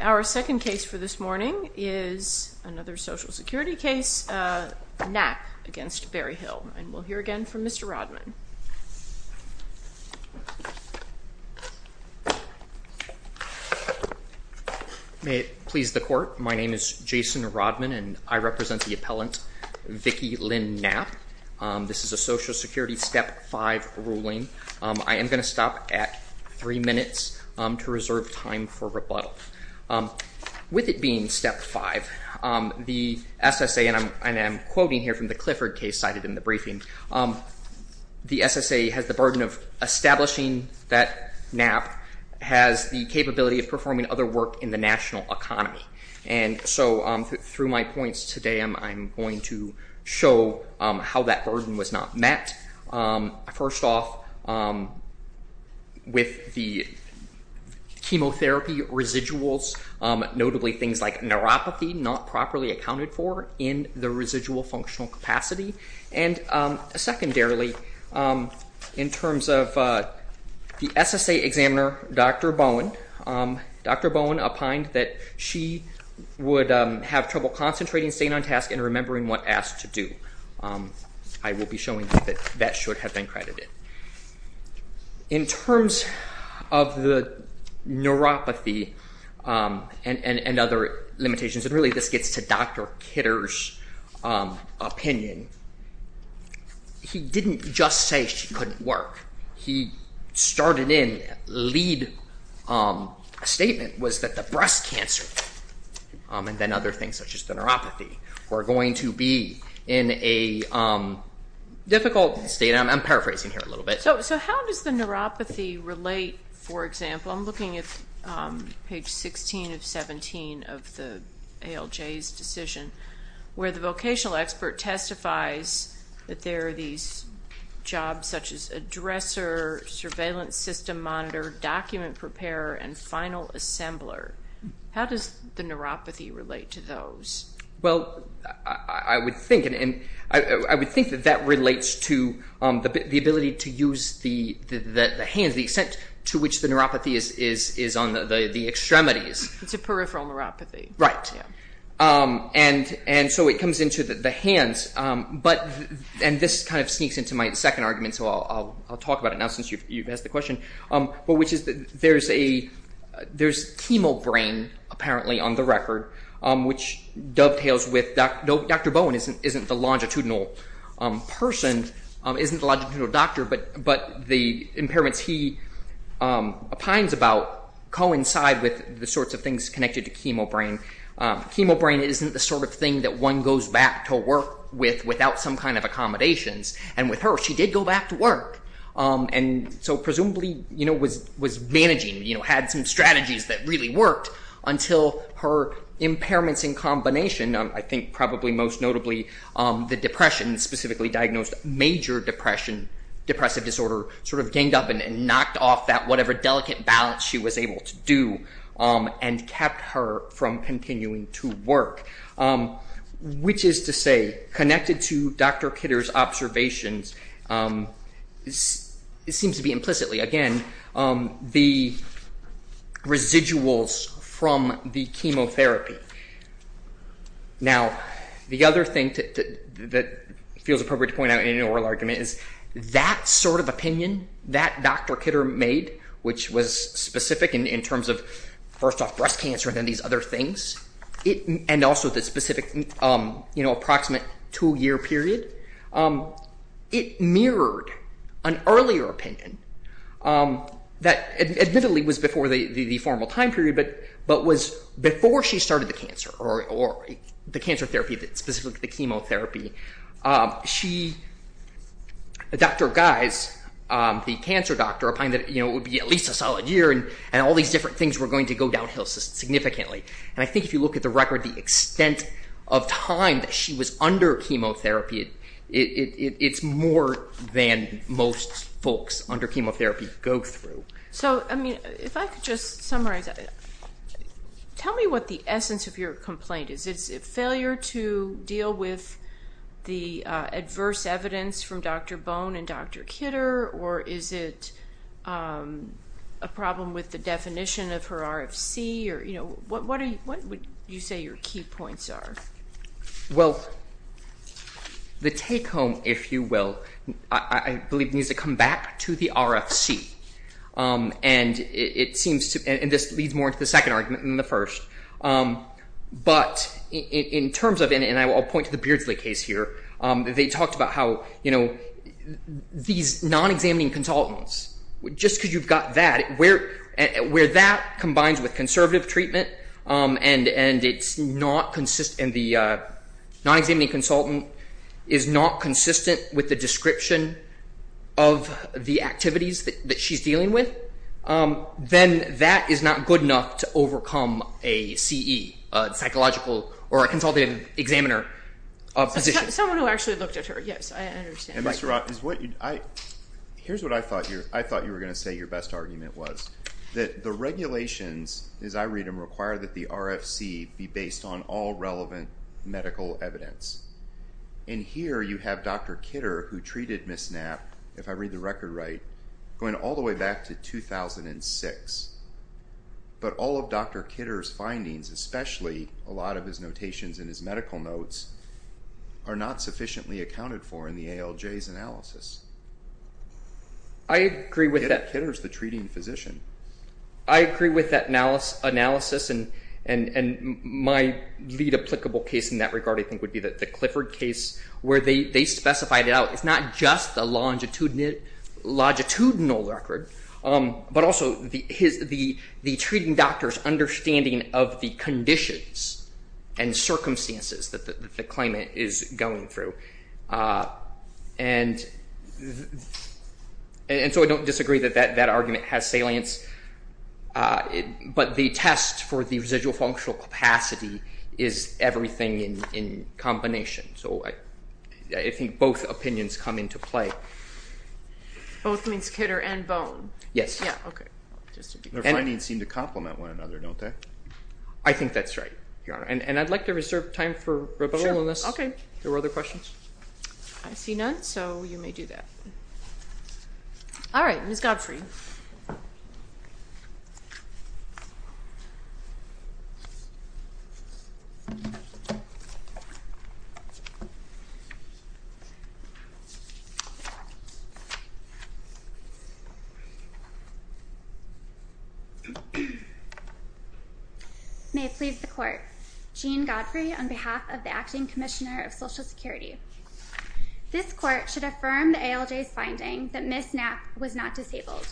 Our second case for this morning is another Social Security case, Knapp v. Berryhill. We'll hear again from Mr. Rodman. Mr. Rodman May it please the Court, my name is Jason Rodman and I represent the appellant Vicky Lynn Knapp. This is a Social Security step 5 ruling. I am going to stop at 3 minutes to reserve time for rebuttal. With it being step 5, the SSA, and I'm quoting here from the Clifford case cited in the briefing, the SSA has the burden of establishing that Knapp has the capability of performing other work in the national economy. And so through my points today I'm going to show how that burden was not met. First off, with the chemotherapy residuals, notably things like neuropathy not properly accounted for in the residual functional capacity. And secondarily, in terms of the SSA examiner, Dr. Bowen, Dr. Bowen opined that she would have trouble concentrating, staying on task, and remembering what asked to do. I will be showing that that should have been credited. In terms of the neuropathy and other limitations, and really this gets to Dr. Kidder's opinion, he didn't just say she couldn't work. He started in, lead statement was that the breast cancer, and then other things such as the neuropathy, were going to be in a difficult state, and I'm paraphrasing here a little bit. So how does the neuropathy relate, for example, I'm looking at page 16 of 17 of the ALJ's decision, where the vocational expert testifies that there are these jobs such as addresser, surveillance system monitor, document preparer, and final assembler. How does the neuropathy relate to those? Well, I would think that that relates to the ability to use the hands, the extent to which the neuropathy is on the extremities. It's a peripheral neuropathy. Right. And so it comes into the hands, and this kind of sneaks into my second argument, so I'll on the record, which dovetails with, Dr. Bowen isn't the longitudinal person, isn't the longitudinal doctor, but the impairments he opines about coincide with the sorts of things connected to chemo brain. Chemo brain isn't the sort of thing that one goes back to work with without some kind of accommodations, and with her, she did go back to work, and so presumably was managing, had some strategies that really worked until her impairments in combination, I think probably most notably the depression, specifically diagnosed major depression, depressive disorder, sort of ganged up and knocked off that whatever delicate balance she was able to do, and kept her from continuing to work. Which is to say, connected to Dr. Kidder's observations, it seems to be implicitly, again, the residuals from the chemotherapy. Now, the other thing that feels appropriate to point out in an oral argument is that sort of opinion that Dr. Kidder made, which was specific in terms of first off breast cancer and then these other things, and also the specific approximate two year period, it mirrored an earlier opinion that admittedly was before the formal time period, but was before she started the cancer, or the cancer therapy, specifically the chemotherapy. She, Dr. Geis, the cancer doctor, opined that it would be at least a solid year and all these different things were going to go downhill significantly, and I think if you look at the record, the extent of time that she was under chemotherapy, it's more than most folks under chemotherapy go through. So I mean, if I could just summarize, tell me what the essence of your complaint is. Is it failure to deal with the adverse evidence from Dr. Bone and Dr. Kidder, or is it a problem with the definition of her RFC, or what would you say your key points are? Well, the take home, if you will, I believe needs to come back to the RFC, and this leads more to the second argument than the first, but in terms of, and I'll point to the Beardsley case here, they talked about how these non-examining consultants, just because you've got that, where that combines with conservative treatment, and the non-examining consultant is not consistent with the description of the activities that she's dealing with, then that is not good enough to overcome a CE, a psychological, or a consultative examiner of physicians. Someone who actually looked at her, yes, I understand. And Mr. Rott, here's what I thought you were going to say your best argument was, that the regulations, as I read them, require that the RFC be based on all relevant medical evidence. And here you have Dr. Kidder, who treated Ms. Knapp, if I read the record right, going all the way back to 2006, but all of Dr. Kidder's findings, especially a lot of his notations and his medical notes, are not sufficiently accounted for in the ALJ's analysis. I agree with that. Kidder's the treating physician. I agree with that analysis, and my lead applicable case in that regard, I think, would be the Clifford case, where they specified it out. It's not just the longitudinal record, but also the treating doctor's understanding of the conditions and circumstances that the claimant is going through. And so I don't disagree that that argument has salience, but the test for the residual functional capacity is everything in combination. So I think both opinions come into play. Both means Kidder and Bone? Yes. Yeah, okay. Their findings seem to complement one another, don't they? I think that's right, Your Honor. And I'd like to reserve time for rebuttal, unless there were other questions. I see none, so you may do that. All right, Ms. Godfrey. May it please the Court, Jean Godfrey, on behalf of the Acting Commissioner of Social Security. This Court should affirm the ALJ's finding that Ms. Knapp was not disabled.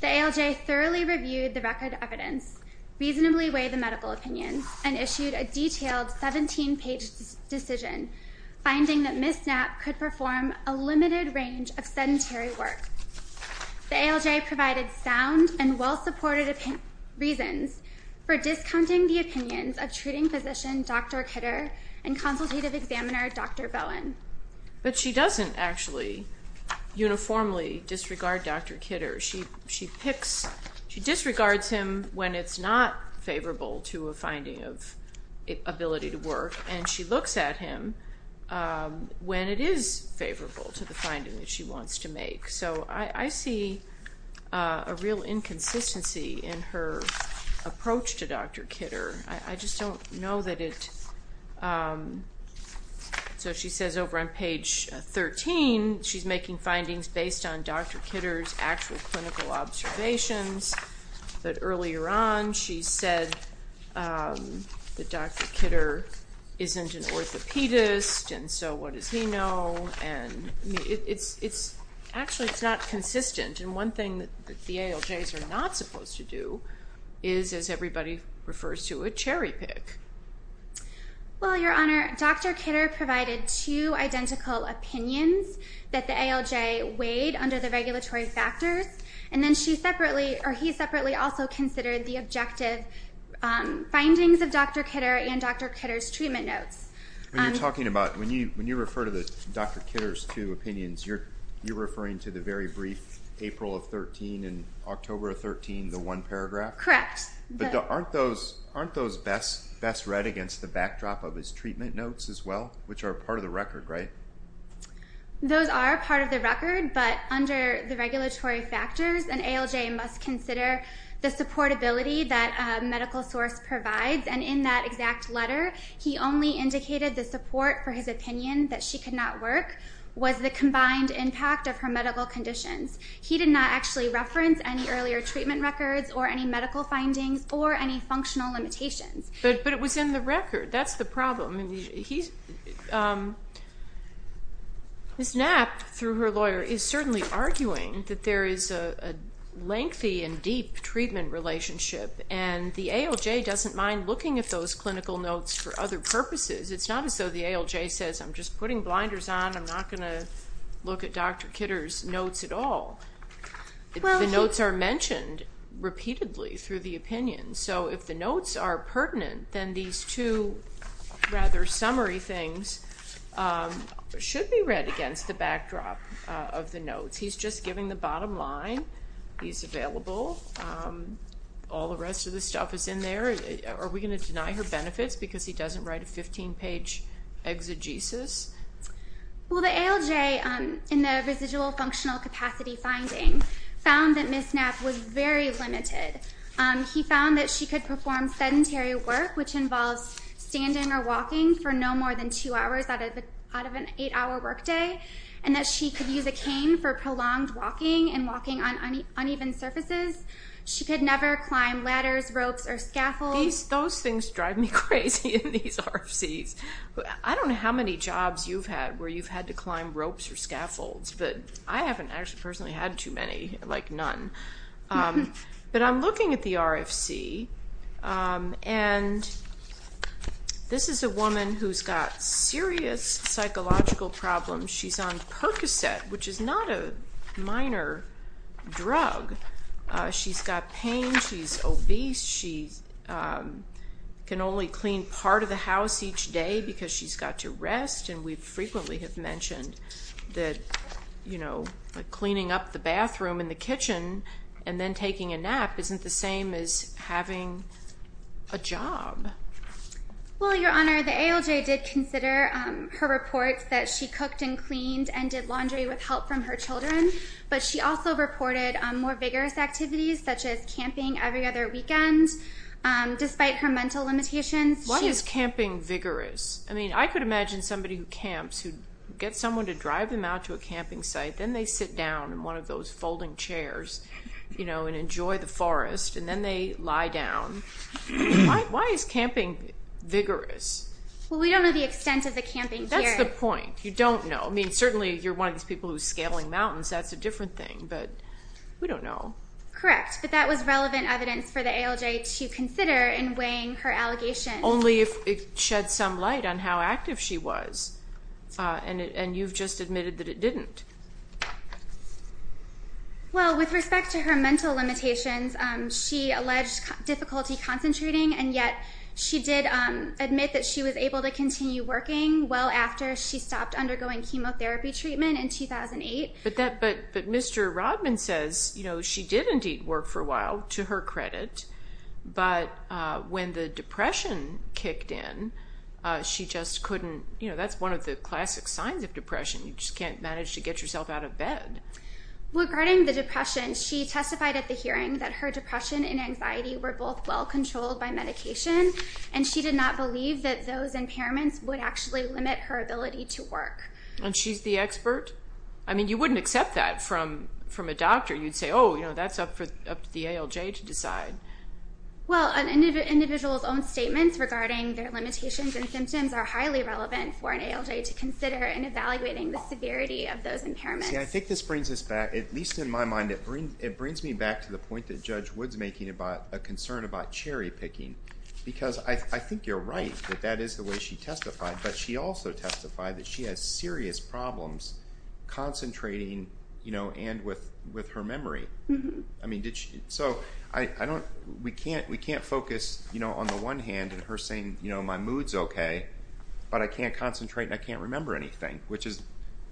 The ALJ thoroughly reviewed the record evidence, reasonably weighed the medical opinion, and issued a detailed 17-page decision, finding that Ms. Knapp could perform a limited range of sedentary work. The ALJ provided sound and well-supported reasons for discounting the opinions of treating physician Dr. Kidder and consultative examiner Dr. Bone. But she doesn't actually uniformly disregard Dr. Kidder. She picks, she disregards him when it's not favorable to a finding of ability to work, and she looks at him when it is favorable to the finding that she wants to make. So I see a real inconsistency in her approach to Dr. Kidder. I just don't know that it, so she says over on page 13, she's making findings based on Dr. Kidder's actual clinical observations, but earlier on she said that Dr. Kidder isn't an orthopedist, and so what does he know, and it's, actually it's not consistent, and one thing that the ALJs are not supposed to do is, as everybody refers to it, cherry-pick. Well, Your Honor, Dr. Kidder provided two identical opinions that the ALJ weighed under the regulatory factors, and then she separately, or he separately also considered the objective findings of Dr. Kidder and Dr. Kidder's treatment notes. When you're talking about, when you refer to Dr. Kidder's two opinions, you're referring to the very brief April of 13 and October of 13, the one paragraph? Correct. But aren't those best read against the backdrop of his treatment notes as well, which are part of the record, right? Those are part of the record, but under the regulatory factors, an ALJ must consider the supportability that a medical source provides, and in that exact letter, he only indicated the support for his opinion that she could not work was the combined impact of her medical conditions. He did not actually reference any earlier treatment records or any medical findings or any functional limitations. But it was in the record. That's the problem. I mean, he's, Ms. Knapp, through her lawyer, is certainly arguing that there is a lengthy and deep treatment relationship, and the ALJ doesn't mind looking at those clinical notes for other purposes. It's not as though the ALJ says, I'm just putting blinders on, I'm not going to look at Dr. Kidder's notes at all. The notes are mentioned repeatedly through the opinions. So if the notes are pertinent, then these two rather summary things should be read against the backdrop of the notes. He's just giving the bottom line. He's available. All the rest of the stuff is in there. Are we going to deny her benefits because he doesn't write a 15-page exegesis? Well, the ALJ, in the residual functional capacity finding, found that Ms. Knapp was very limited. He found that she could perform sedentary work, which involves standing or walking for no more than two hours out of an eight-hour workday, and that she could use a cane for prolonged walking and walking on uneven surfaces. She could never climb ladders, ropes, or scaffolds. Those things drive me crazy in these RFCs. I don't know how many jobs you've had where you've had to climb ropes or scaffolds, but I'm looking at the RFC, and this is a woman who's got serious psychological problems. She's on Percocet, which is not a minor drug. She's got pain. She's obese. She can only clean part of the house each day because she's got to rest. We frequently have mentioned that cleaning up the bathroom and the kitchen and then taking a nap isn't the same as having a job. Well, Your Honor, the ALJ did consider her reports that she cooked and cleaned and did laundry with help from her children, but she also reported more vigorous activities, such as camping every other weekend, despite her mental limitations. Why is camping vigorous? I could imagine somebody who camps who gets someone to drive them out to a camping site, then they sit down in one of those folding chairs and enjoy the forest, and then they lie down. Why is camping vigorous? Well, we don't know the extent of the camping here. That's the point. You don't know. Certainly, you're one of these people who's scaling mountains. That's a different thing, but we don't know. Correct, but that was relevant evidence for the ALJ to consider in weighing her allegations. Only if it sheds some light on how active she was, and you've just admitted that it didn't. Well, with respect to her mental limitations, she alleged difficulty concentrating, and yet she did admit that she was able to continue working well after she stopped undergoing chemotherapy treatment in 2008. But Mr. Rodman says she did indeed work for a while, to her credit, but when the depression kicked in, she just couldn't. That's one of the classic signs of depression, you just can't manage to get yourself out of bed. Regarding the depression, she testified at the hearing that her depression and anxiety were both well-controlled by medication, and she did not believe that those impairments And she's the expert? I mean, you wouldn't accept that from a doctor. You'd say, oh, that's up to the ALJ to decide. Well, an individual's own statements regarding their limitations and symptoms are highly relevant for an ALJ to consider in evaluating the severity of those impairments. See, I think this brings us back, at least in my mind, it brings me back to the point that Judge Wood's making about a concern about cherry-picking, because I think you're right that that is the way she testified, but she also testified that she has serious problems concentrating and with her memory. So we can't focus, on the one hand, on her saying my mood's okay, but I can't concentrate and I can't remember anything, which is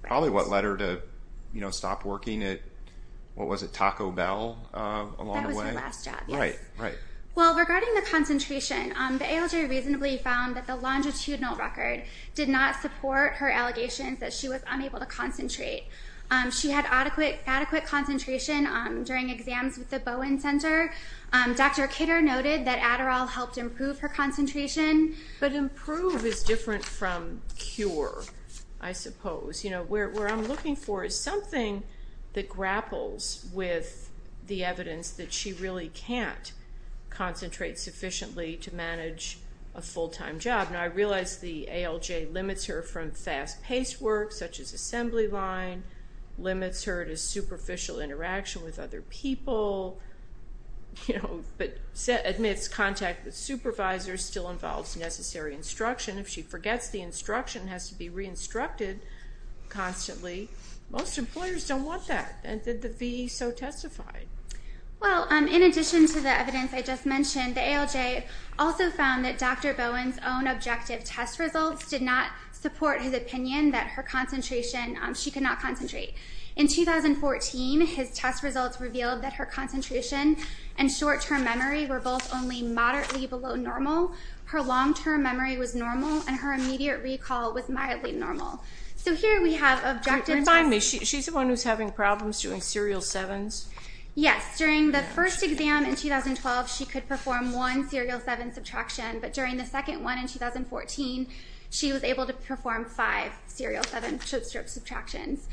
probably what led her to stop working at, what was it, Taco Bell along the way? That was her last job, yes. Right, right. Well, regarding the concentration, the ALJ reasonably found that the longitudinal record did not support her allegations that she was unable to concentrate. She had adequate concentration during exams with the Bowen Center. Dr. Kidder noted that Adderall helped improve her concentration. But improve is different from cure, I suppose. You know, where I'm looking for is something that grapples with the evidence that she really can't concentrate sufficiently to manage a full-time job. Now, I realize the ALJ limits her from fast-paced work, such as assembly line, limits her to superficial interaction with other people, you know, but admits contact with supervisors still involves necessary instruction. If she forgets the instruction, has to be re-instructed constantly. Most employers don't want that. And did the VE so testify? Well, in addition to the evidence I just mentioned, the ALJ also found that Dr. Bowen's own objective test results did not support his opinion that her concentration, she could not concentrate. In 2014, his test results revealed that her concentration and short-term memory were both only moderately below normal. Her long-term memory was normal, and her immediate recall was mildly normal. So here we have objectives. Remind me, she's the one who's having problems doing serial sevens? Yes. During the first exam in 2012, she could perform one serial seven subtraction. But during the second one in 2014, she was able to perform five serial seven subtractions.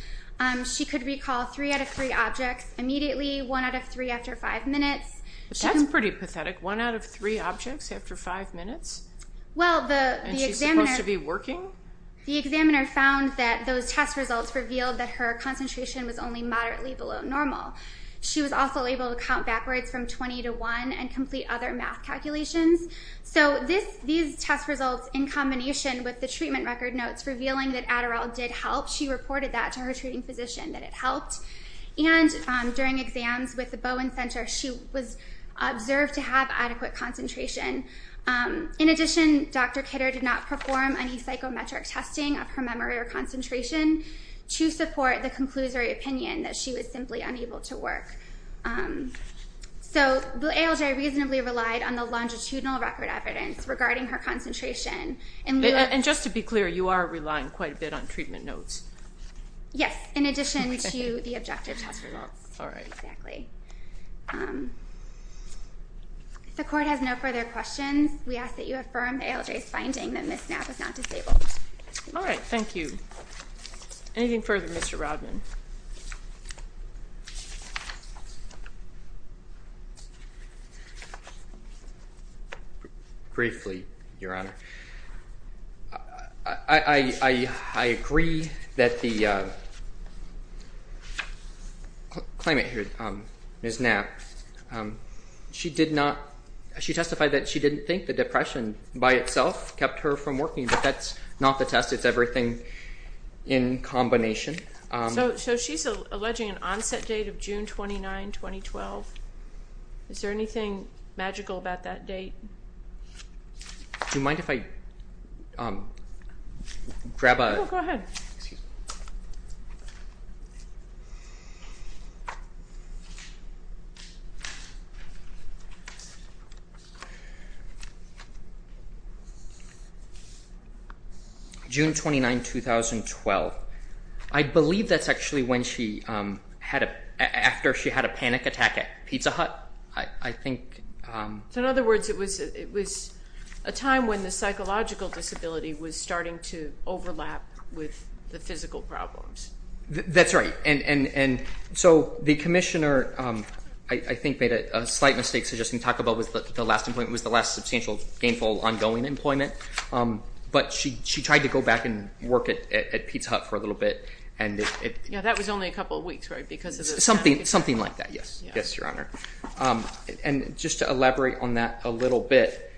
She could recall three out of three objects immediately, one out of three after five minutes. That's pretty pathetic. One out of three objects after five minutes? And she's supposed to be working? The examiner found that those test results revealed that her concentration was only moderately below normal. She was also able to count backwards from 20 to 1 and complete other math calculations. So these test results in combination with the treatment record notes revealing that Adderall did help, she reported that to her treating physician, that it helped. And during exams with the Bowen Center, she was observed to have adequate concentration. In addition, Dr. Kidder did not perform any psychometric testing of her memory or concentration to support the conclusory opinion that she was simply unable to work. So the ALJ reasonably relied on the longitudinal record evidence regarding her concentration. And just to be clear, you are relying quite a bit on treatment notes? Yes, in addition to the objective test results. All right. Exactly. If the court has no further questions, we ask that you affirm ALJ's finding that Ms. Knapp is not disabled. All right. Thank you. Anything further, Mr. Rodman? Briefly, Your Honor. I agree that the claimant here, Ms. Knapp, she did not, she testified that she didn't think the depression by itself kept her from working, but that's not the test. It's everything in combination. So she's alleging an onset date of June 29, 2012. Is there anything magical about that date? Do you mind if I grab a... No, go ahead. Excuse me. June 29, 2012. I believe that's actually when she had a, after she had a panic attack at Pizza Hut. I think... So in other words, it was a time when the psychological disability was starting to overlap with the physical problems. That's right. And so the commissioner, I think, made a slight mistake suggesting Taco Bell was the last employment, was the last substantial, gainful, ongoing employment. But she tried to go back and work at Pizza Hut for a little bit. Yeah, that was only a couple of weeks, right? Something like that, yes. Yes, Your Honor. And just to elaborate on that a little bit,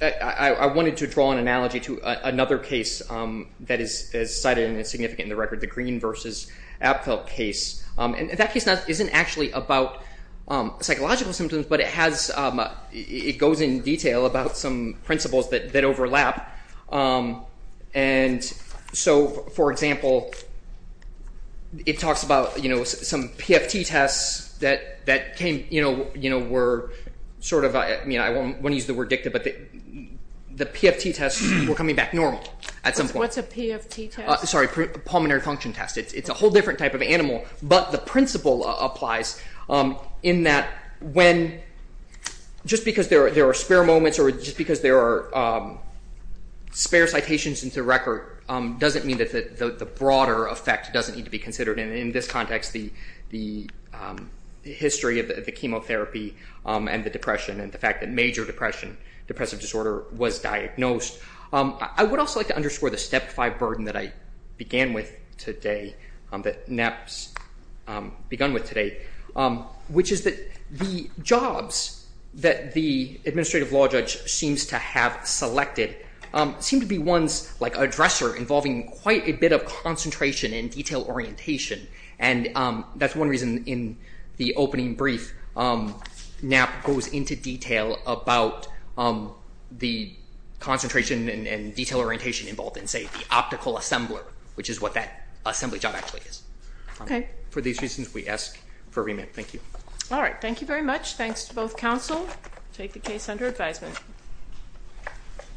I wanted to draw an analogy to another case that is cited and is significant in the record, the Green versus Abfeld case. And that case isn't actually about psychological symptoms, but it has, it goes in detail about some principles that overlap. And so, for example, it talks about, you know, some PFT tests that came, you know, were sort of, I mean, I won't use the word dicta, but the PFT tests were coming back normal at some point. What's a PFT test? Sorry, pulmonary function test. It's a whole different type of animal. But the principle applies in that when, just because there are spare moments or just because there are spare citations into the record, doesn't mean that the broader effect doesn't need to be considered. And in this context, the history of the chemotherapy and the depression and the fact that major depression, depressive disorder was diagnosed. I would also like to underscore the Step 5 burden that I began with today, that NAP's begun with today, which is that the jobs that the administrative law judge seems to have selected seem to be ones like a dresser involving quite a bit of concentration and detail orientation. And that's one reason in the opening brief NAP goes into detail about the concentration and detail orientation involved in, say, the optical assembler, which is what that assembly job actually is. Okay. For these reasons, we ask for a remit. Thank you. All right. Thank you very much. Thanks to both counsel. Take the case under advisement.